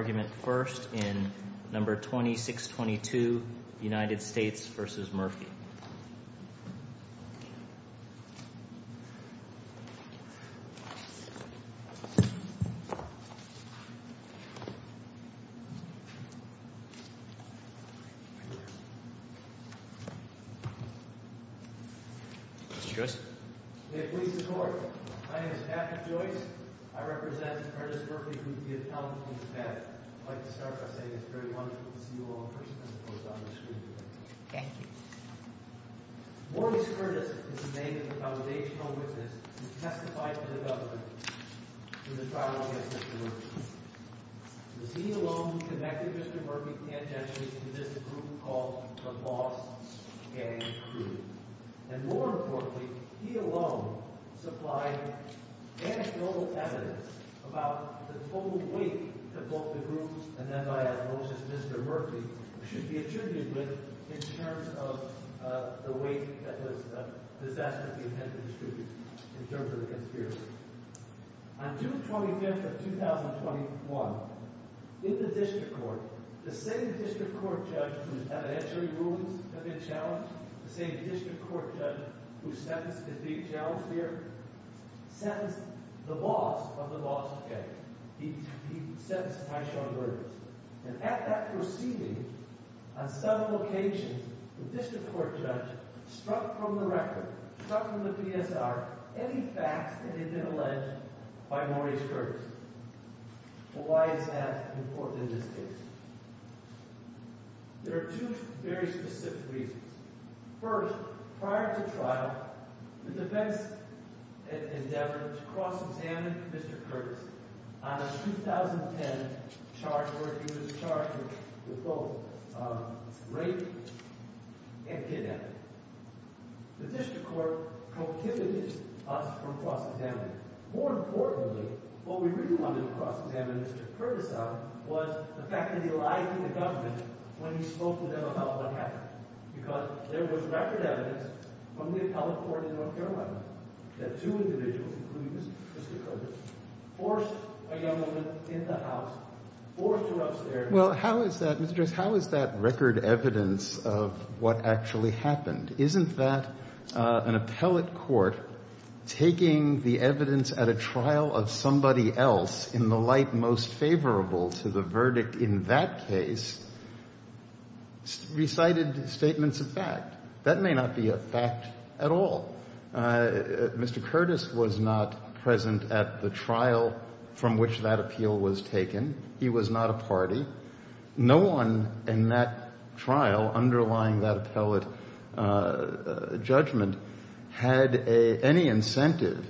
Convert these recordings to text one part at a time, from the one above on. Mr. Joyce? May it please the Court. My name is Patrick Joyce. I represent Curtis Murphy, who is the accountant from Spadak. I'd like to start by saying it's very wonderful to see you all present, of course, on the screen today. Thank you. Joyce Curtis is the name of the foundational witness who testified for the government in the trial against Mr. Murphy. It was he alone who connected Mr. Murphy tangentially to this group called the Boss Gang Crew. And more importantly, he alone supplied anecdotal evidence about the total weight that both the group and, as I have noticed, Mr. Murphy should be attributed with in terms of the weight that was disastrously heavily distributed in terms of the conspiracy. On June 25th of 2021, in the district court, the same district court judge whose evidentiary rulings had been challenged, the same district court judge who is being challenged here, sentenced the boss of the Boss Gang. He said some high-strung words. And at that proceeding, on several occasions, the district court judge struck from the record, struck from the PSR, any facts that had been alleged by Maurice Curtis. Why is that important in this case? There are two very specific reasons. First, prior to trial, the defense endeavored to cross-examine Mr. Curtis on a 2010 charge where he was charged with both rape and kidnapping. The district court prohibited us from cross-examining him. More importantly, what we really wanted to cross-examine Mr. Curtis on was the fact that he lied to the government when he spoke to them about what happened, because there was record evidence from the appellate court in North Carolina that two individuals, including Mr. Curtis, forced a young woman in the house, forced her upstairs. Well, how is that, Mr. Joyce, how is that record evidence of what actually happened? Isn't that an appellate court taking the evidence at a trial of somebody else in the light most of that case recited statements of fact? That may not be a fact at all. Mr. Curtis was not present at the trial from which that appeal was taken. He was not a party. No one in that trial underlying that appellate judgment had any incentive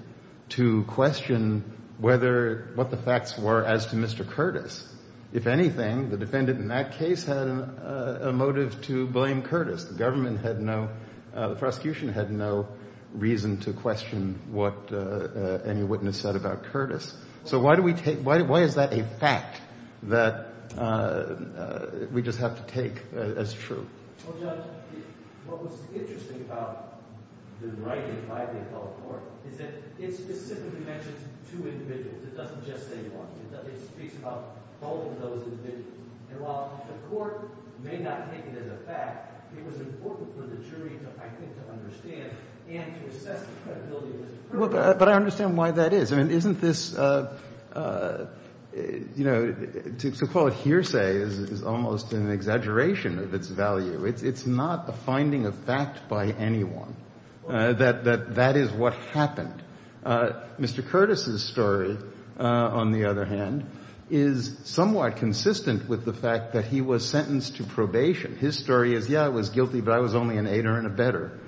to question whether what the facts were as to Mr. Curtis. If anything, the defendant in that case had a motive to blame Curtis. The government had no, the prosecution had no reason to question what any witness said about Curtis. So why do we take, why is that a fact that we just have to take as true? Well, Judge, what was interesting about the writing by the appellate court is that it specifically mentions two individuals. It doesn't just say one. It speaks about both of those individuals. And while the court may not take it as a fact, it was important for the jury to, I think, to understand and to assess the credibility of this program. But I understand why that is. I mean, isn't this, you know, to call it hearsay is almost an exaggeration of its value. It's not the finding of fact by anyone that that is what happened. Mr. Curtis's story, on the other hand, is somewhat consistent with the fact that he was sentenced to probation. His story is, yeah, I was guilty, but I was only an aider and a better.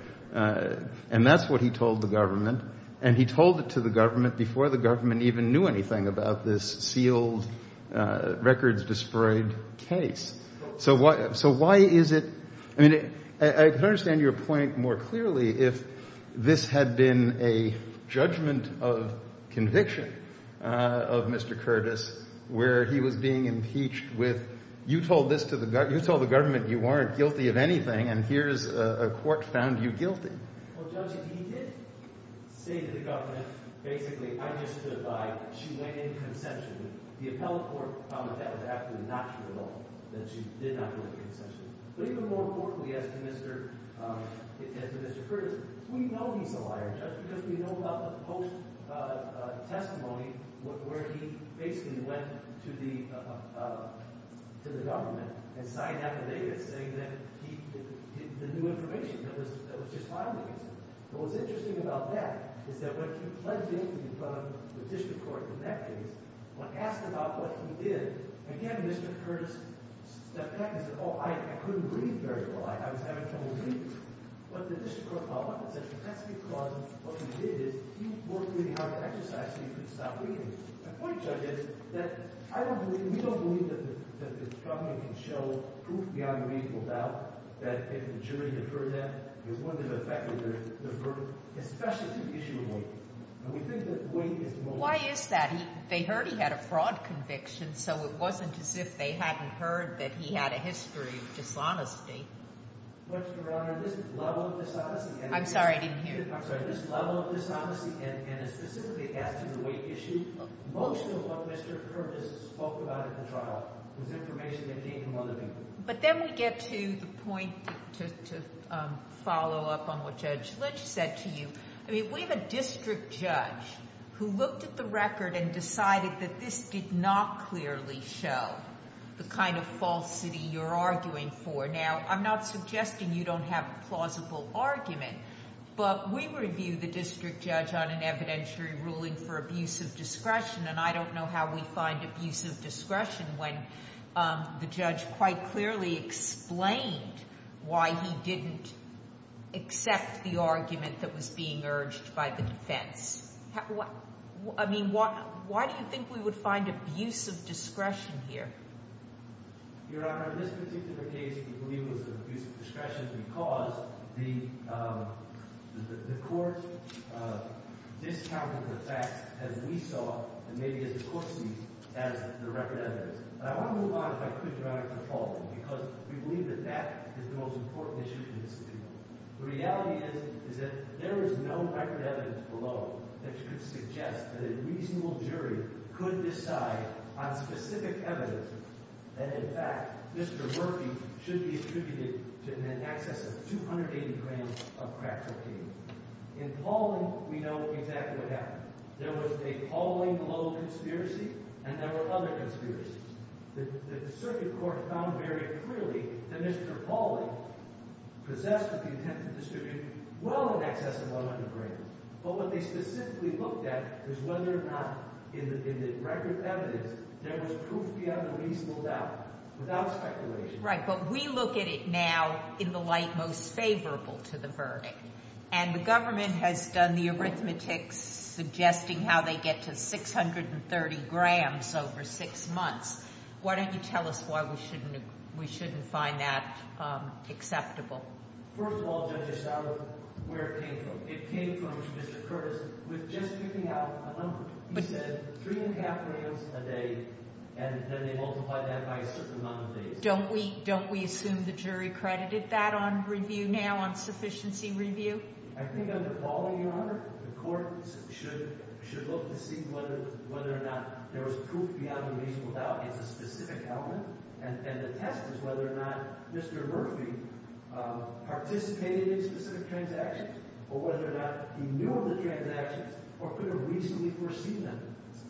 And that's what he told the government. And he told it to the government before the government even knew anything about this sealed, records-desperate case. So why is it? I mean, I could understand your point more clearly if this had been a judgment of conviction of Mr. Curtis, where he was being impeached with, you told this to the government, you told the government you weren't guilty of anything, and here's a court found you guilty. Well, Judge, he did say to the government, basically, I just stood by. She went in consensually. The appellate court found that that was absolutely not true at all, that she did not go in consensually. But even more importantly, as to Mr. Curtis, we know he's a liar, Judge, because we know about the post-testimony where he basically went to the government and signed out the data saying that he had the new information that was just filed against him. But what's interesting about that is that when he pled guilty in front of the district court in that case, when asked about what he did, again, Mr. Curtis stepped back and said, oh, I couldn't read very well. I was having trouble reading. But the district court found one exception. That's because what he did is he worked really hard to exercise so he could stop reading. My point, Judge, is that I don't believe, we don't believe that the government can show proof beyond a reasonable doubt that if the jury deferred that, it wouldn't have affected the verdict, especially to the issue of weight. And we think that weight is most important. Why is that? They heard he had a fraud conviction, so it wasn't as if they hadn't heard that he had a history of dishonesty. But, Your Honor, this level of dishonesty and a specific as to the weight issue, most of what Mr. Curtis spoke about at the trial was information that came from other people. But then we get to the point to follow up on what Judge Lynch said to you. I mean, we have a district judge who looked at the record and decided that this did not clearly show the kind of falsity you're arguing for. Now, I'm not suggesting you don't have a plausible argument, but we review the district judge on an evidentiary ruling for abuse of discretion, and I don't know how we find abuse of discretion when the judge quite clearly explained why he didn't accept the argument that was being urged by the defense. I mean, why do you think we would find abuse of discretion here? Your Honor, in this particular case, we believe it was abuse of discretion because the court discounted the facts as we saw and maybe as the court sees as the record evidence. And I want to move on if I could, Your Honor, to the following, because we believe that that is the most important issue in this case. The reality is that there is no record evidence below that could suggest that a reasonable jury could decide on specific evidence and, in fact, Mr. Murphy should be attributed to an excess of 280 grams of crack cocaine. In Pauling, we know exactly what happened. There was a Pauling Low conspiracy and there were other conspiracies. The circuit court found very clearly that Mr. Pauling possessed with the intent to distribute well in excess of 100 grams. But what they specifically looked at is whether or not in the record evidence there was proof beyond a reasonable doubt without speculation. Right, but we look at it now in the light most favorable to the verdict. And the government has done the arithmetic suggesting how they get to 630 grams over six months. Why don't you tell us why we shouldn't find that acceptable? First of all, Judge Estrada, where it came from. It came from Mr. Curtis with just giving out a number. He said three and a half grams a day, and then they multiply that by a certain amount of days. Don't we assume the jury credited that on review now, on sufficiency review? I think under Pauling, Your Honor, the courts should look to see whether or not there was proof beyond a reasonable doubt. It's a specific element, and the test is whether or not Mr. Murphy participated in specific transactions or whether or not he knew of the transactions or could have reasonably foreseen them.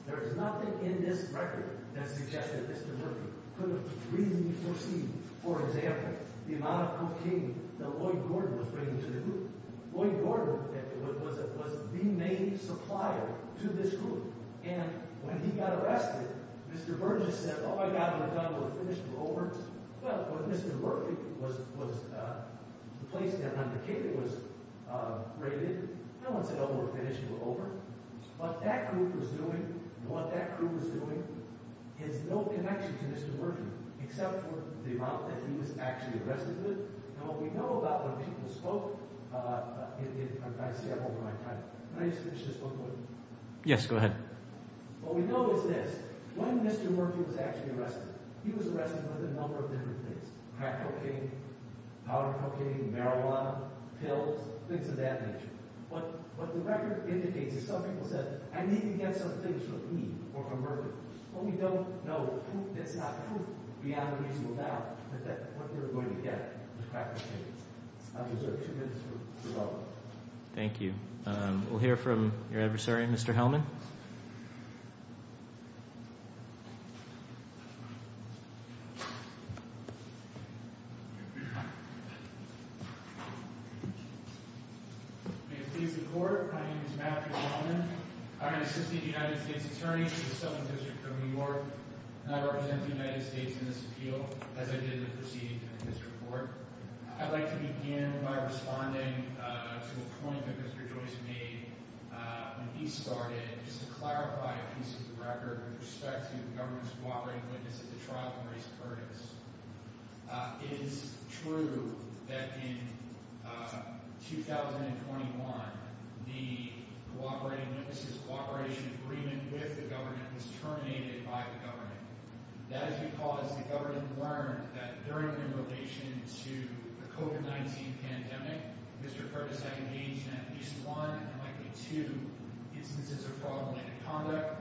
There is nothing in this record that suggests that Mr. Murphy could have reasonably foreseen, for example, the amount of cocaine that Lloyd Gordon was bringing to the group. Lloyd Gordon was the main supplier to this group, and when he got arrested, Mr. Burgess said, oh, my God, we're done. We're finished. We're over. Well, when Mr. Murphy was placed at 100K, it was graded. No one said, oh, we're finished. We're over. What that group was doing and what that group was doing has no connection to Mr. Murphy except for the amount that he was actually arrested with. Now, what we know about when people spoke in – I've got to stay up over my time. Can I just finish this one quick? Yes, go ahead. What we know is this. When Mr. Murphy was actually arrested, he was arrested with a number of different things, crack cocaine, powder cocaine, marijuana, pills, things of that nature. What the record indicates is some people said, I need to get some things from me or from Murphy. What we don't know, proof that's not proof, we have a reasonable doubt that what we're going to get is crack cocaine. I'll reserve two minutes for development. Thank you. We'll hear from your adversary, Mr. Hellman. My name is Matthew Hellman. I'm an assistant United States attorney for the Southern District of New York, and I represent the United States in this appeal, as I did in the proceedings of this report. I'd like to begin by responding to a point that Mr. Joyce made when he started, just to clarify a piece of the record with respect to the government's cooperating witness at the trial of Maurice Curtis. It is true that in 2021, the cooperating witness's cooperation agreement with the government was terminated by the government. That is because the government learned that during their rotation to the COVID-19 pandemic, Mr. Curtis had engaged in at least one, and likely two, instances of fraudulent conduct.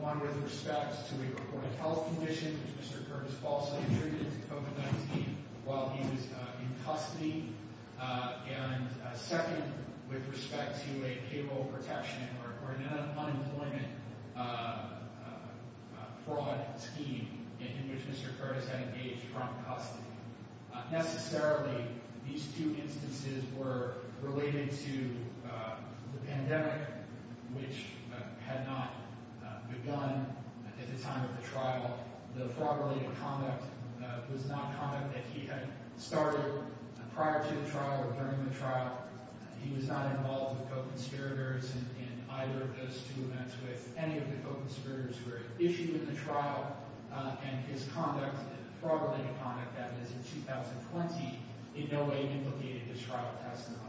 One with respect to a recorded health condition, which Mr. Curtis falsely attributed to COVID-19 while he was in custody. And second, with respect to a payroll protection or an unemployment fraud scheme in which Mr. Curtis had engaged from custody. Necessarily, these two instances were related to the pandemic, which had not begun at the time of the trial. The fraud-related conduct was not conduct that he had started prior to the trial or during the trial. He was not involved with co-conspirators in either of those two events with any of the co-conspirators who were issued in the trial. And his conduct, fraud-related conduct, that is in 2020, in no way implicated his trial testimony.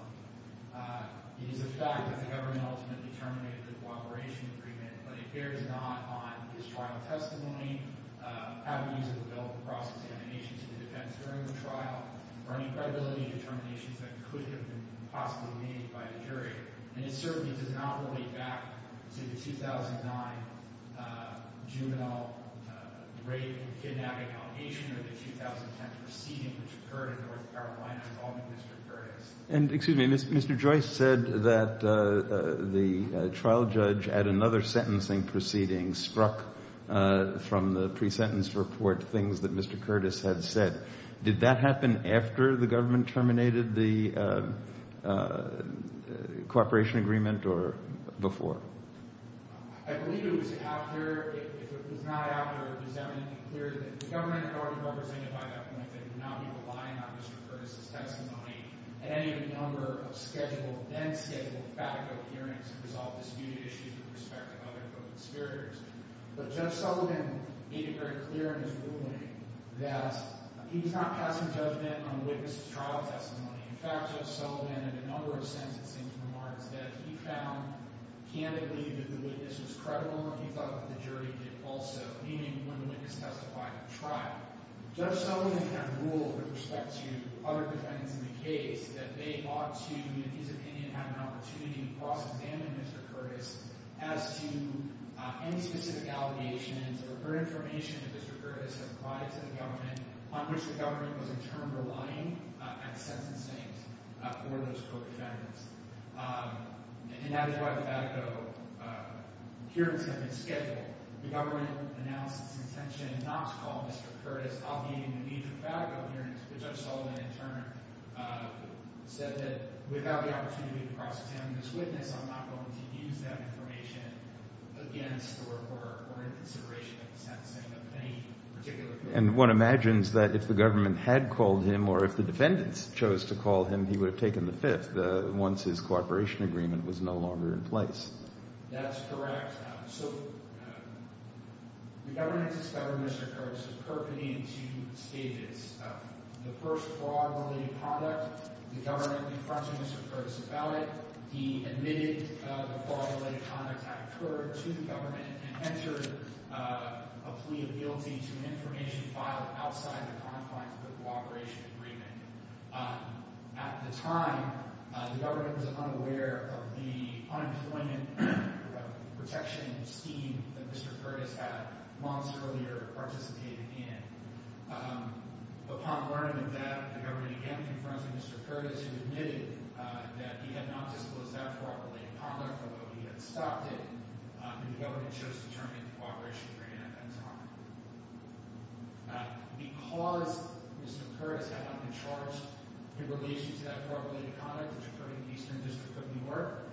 It is a fact that the government ultimately terminated the cooperation agreement, but it bears not on his trial testimony, any avenues of the bill of cross-examination to the defense during the trial, or any credibility determinations that could have been possibly made by the jury. And it certainly does not relate back to the 2009 juvenile rape and kidnapping allegation or the 2010 proceeding which occurred in North Carolina involving Mr. Curtis. And, excuse me, Mr. Joyce said that the trial judge at another sentencing proceeding struck from the pre-sentence report things that Mr. Curtis had said. Did that happen after the government terminated the cooperation agreement or before? I believe it was after – if it was not after, does that make it clear that the government had already represented by that point that it would not be relying on Mr. Curtis' testimony at any of the number of scheduled, then-scheduled, fact-filled hearings to resolve disputed issues with respect to other co-conspirators? But Judge Sullivan made it very clear in his ruling that he was not passing judgment on the witness' trial testimony. In fact, Judge Sullivan in a number of sentencing remarks that he found candidly that the witness was credible and he thought that the jury did also, meaning when the witness testified at the trial. Judge Sullivan had ruled with respect to other defendants in the case that they ought to, in his opinion, have an opportunity to cross-examine Mr. Curtis as to any specific allegations or information that Mr. Curtis had provided to the government on which the government was in turn relying at sentencing for those co-defendants. And that is why the Fatico hearings have been scheduled. The government announced its intention not to call Mr. Curtis, obviating the needs of the Fatico hearings, but Judge Sullivan in turn said that without the opportunity to cross-examine this witness, I'm not going to use that information against or in consideration of the sentencing of any particular case. And one imagines that if the government had called him or if the defendants chose to call him, he would have taken the fifth, once his cooperation agreement was no longer in place. That's correct. So the government discovered Mr. Curtis was perpeting in two stages. The first fraud-related conduct, the government confronted Mr. Curtis about it. He admitted the fraud-related conduct had occurred to the government and entered a plea of guilty to an information filed outside the confines of the cooperation agreement. At the time, the government was unaware of the unemployment protection scheme that Mr. Curtis had months earlier participated in. Upon learning of that, the government again confronted Mr. Curtis, who admitted that he had not disclosed that fraud-related conduct, although he had stopped it. And the government chose to turn in the cooperation agreement at that time. Because Mr. Curtis had not been charged in relation to that fraud-related conduct, which occurred in the Eastern District of Newark,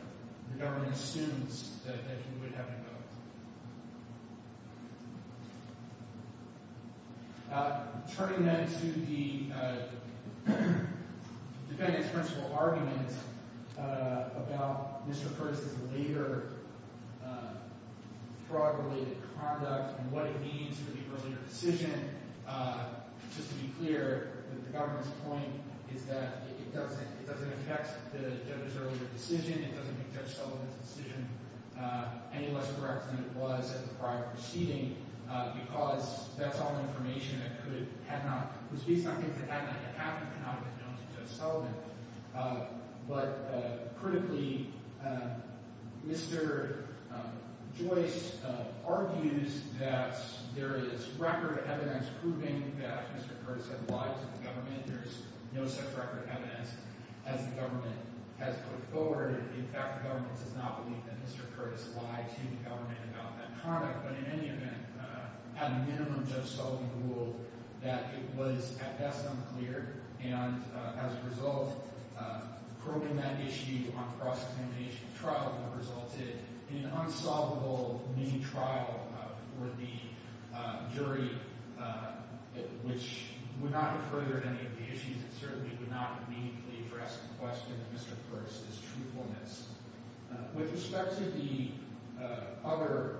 the government assumes that he would have been found. Turning then to the defendant's principal argument about Mr. Curtis' later fraud-related conduct and what it means for the earlier decision, just to be clear, the government's point is that it doesn't affect the judge's earlier decision. It doesn't make Judge Sullivan's decision any less correct than it was at the prior proceeding because that's all information that could have not—could be something that had not happened, could not have been known to Judge Sullivan. But critically, Mr. Joyce argues that there is record evidence proving that Mr. Curtis had lied to the government. There's no such record evidence as the government has put forward. In fact, the government does not believe that Mr. Curtis lied to the government about that conduct. But in any event, at a minimum, Judge Sullivan ruled that it was, at best, unclear. And as a result, probing that issue on cross-examination trial resulted in an unsolvable new trial for the jury, which would not have furthered any of the issues. It certainly would not have meaningfully addressed the question of Mr. Curtis' truthfulness. With respect to the other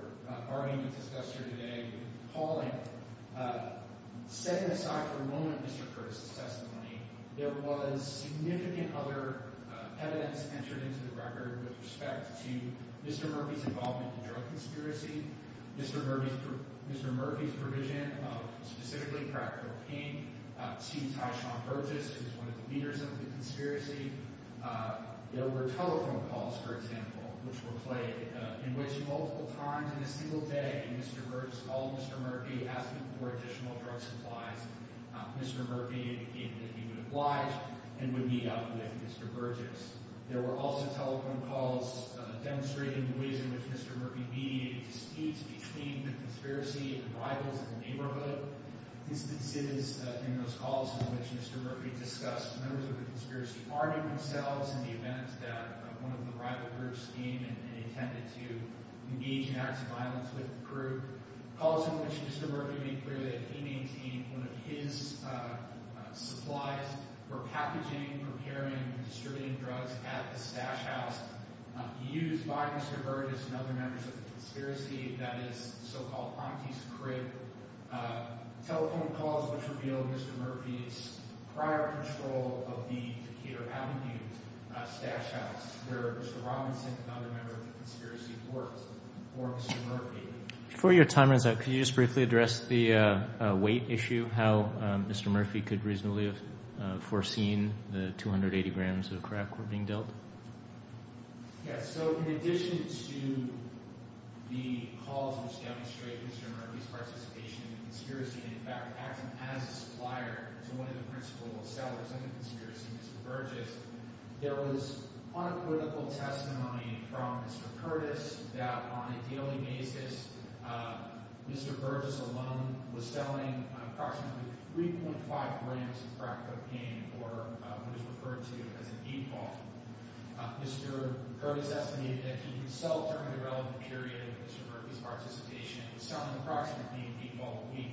arguments discussed here today, Pauling, setting aside for a moment Mr. Curtis' testimony, there was significant other evidence entered into the record with respect to Mr. Murphy's involvement in the drug conspiracy, Mr. Murphy's provision of specifically crack cocaine to Tyshawn Curtis, who's one of the leaders of the conspiracy. There were telephone calls, for example, which were played in which multiple times in a single day Mr. Burgess called Mr. Murphy asking for additional drug supplies. Mr. Murphy indicated that he would oblige and would meet up with Mr. Burgess. There were also telephone calls demonstrating the ways in which Mr. Murphy mediated distinct between the conspiracy and rivals in the neighborhood. Instances in those calls in which Mr. Murphy discussed members of the conspiracy party themselves in the event that one of the rival groups came and intended to engage in acts of violence with the group. Calls in which Mr. Murphy made clear that he maintained one of his supplies for packaging, preparing, and distributing drugs at the stash house used by Mr. Burgess and other members of the conspiracy, that is so-called Fronti's Crib. Telephone calls which revealed Mr. Murphy's prior control of the Takeda Avenue stash house where Mr. Robinson and other members of the conspiracy worked for Mr. Murphy. Before your time runs out, could you just briefly address the weight issue, how Mr. Murphy could reasonably have foreseen the 280 grams of crack were being dealt? Yes, so in addition to the calls which demonstrate Mr. Murphy's participation in the conspiracy and in fact acting as a supplier to one of the principal sellers of the conspiracy, Mr. Burgess, there was unequivocal testimony from Mr. Curtis that on a daily basis Mr. Burgess alone was selling approximately 3.5 grams of crack cocaine, or what is referred to as a heat ball. Mr. Curtis estimated that he himself during the relevant period of Mr. Murphy's participation was selling approximately a heat ball a week.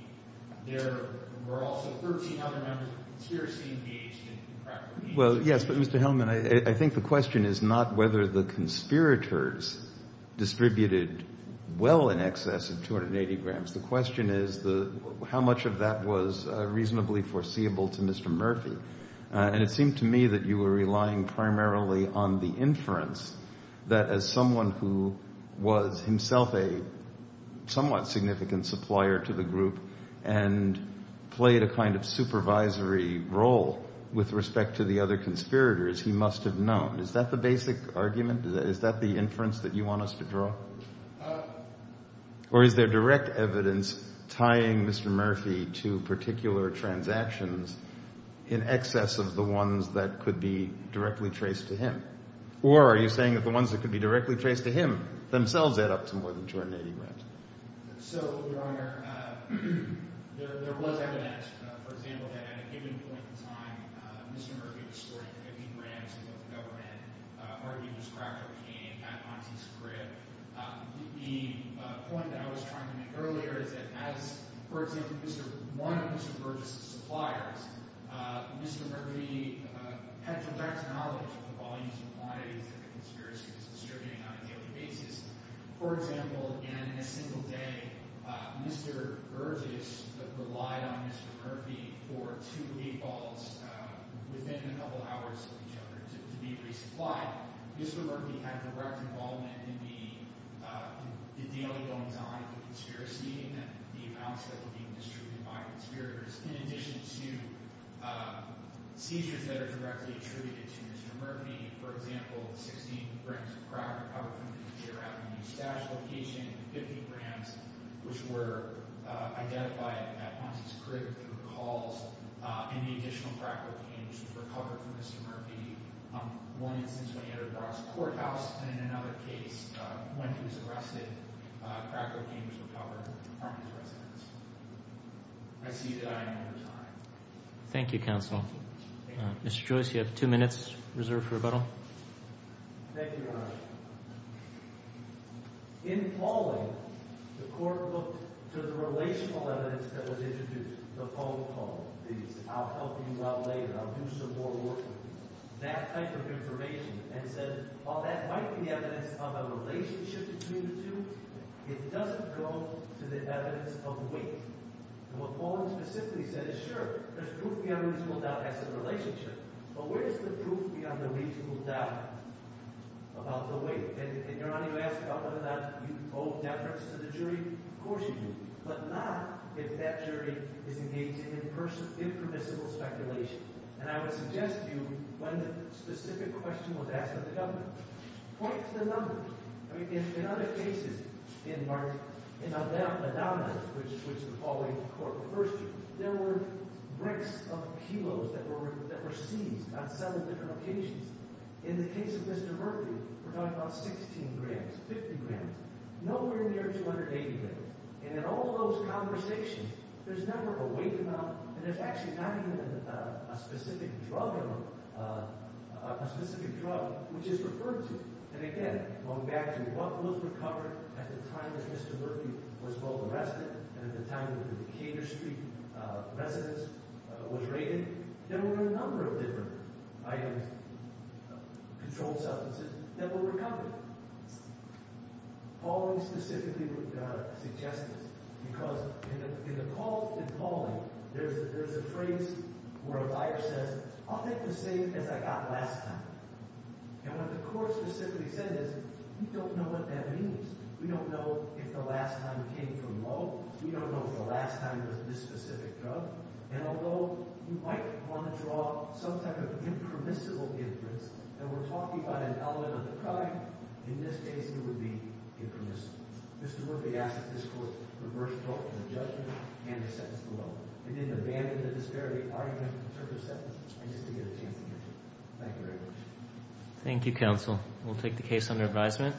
There were also 13 other members of the conspiracy engaged in crack cocaine. Well, yes, but Mr. Hellman, I think the question is not whether the conspirators distributed well in excess of 280 grams. The question is how much of that was reasonably foreseeable to Mr. Murphy. And it seemed to me that you were relying primarily on the inference that as someone who was himself a somewhat significant supplier to the group and played a kind of supervisory role with respect to the other conspirators, he must have known. Is that the basic argument? Is that the inference that you want us to draw? Or is there direct evidence tying Mr. Murphy to particular transactions in excess of the ones that could be directly traced to him? Or are you saying that the ones that could be directly traced to him themselves add up to more than 280 grams? So, Your Honor, there was evidence, for example, that at a given point in time, Mr. Murphy was sporting 50 grams with both the government, arguing his crack cocaine at Monte's Crib. The point that I was trying to make earlier is that as, for example, one of Mr. Burgess' suppliers, Mr. Murphy had direct knowledge of the volumes and quantities that the conspiracy was distributing on a daily basis. For example, in a single day, Mr. Burgess relied on Mr. Murphy for two lead balls within a couple hours of each other to be resupplied. Mr. Murphy had direct involvement in the daily goings-on of the conspiracy and the amounts that were being distributed by conspirators. In addition to seizures that are directly attributed to Mr. Murphy, for example, 16 grams of crack were recovered from Mr. Murphy's stash location, 50 grams, which were identified at Monte's Crib through calls, and the additional crack cocaine, which was recovered from Mr. Murphy. One instance when he entered Brock's courthouse, and in another case, when he was arrested, crack cocaine was recovered from his residence. I see that I am out of time. Thank you, counsel. Mr. Joyce, you have two minutes reserved for rebuttal. Thank you, Your Honor. In Pauling, the court looked to the relational evidence that was introduced, the phone call, the I'll help you out later, I'll do some more work with you, that type of information, and said, well, that might be evidence of a relationship between the two. It doesn't go to the evidence of weight. And what Pauling specifically said is, sure, there's proof beyond a reasonable doubt it has a relationship, but where is the proof beyond a reasonable doubt about the weight? And, Your Honor, you asked about whether or not you owe deference to the jury. Of course you do, but not if that jury is engaged in impermissible speculation. And I would suggest to you, when the specific question was asked of the government, point to the numbers. I mean, in other cases, in Adonis, which the Pauling court reversed, there were bricks of kilos that were seized on several different occasions. In the case of Mr. Murphy, we're talking about 16 grams, 50 grams, nowhere near 280 grams. And in all those conversations, there's never a weight amount, and there's actually not even a specific drug, which is referred to. And again, going back to what was recovered at the time that Mr. Murphy was both arrested and at the time that the Decatur Street residence was raided, there were a number of different items, controlled substances, that were recovered. Pauling specifically suggested this, because in the call in Pauling, there's a phrase where a buyer says, I'll take the same as I got last time. And what the court specifically said is, we don't know what that means. We don't know if the last time came from Moe. We don't know if the last time was this specific drug. And although you might want to draw some type of impermissible inference, and we're talking about an element of the crime, in this case, it would be impermissible. Mr. Murphy asked that this court reverse the judgment and the sentence below. It didn't abandon the disparity argument in terms of sentence. I just didn't get a chance to get to it. Thank you very much. Thank you, counsel. We'll take the case under advisement.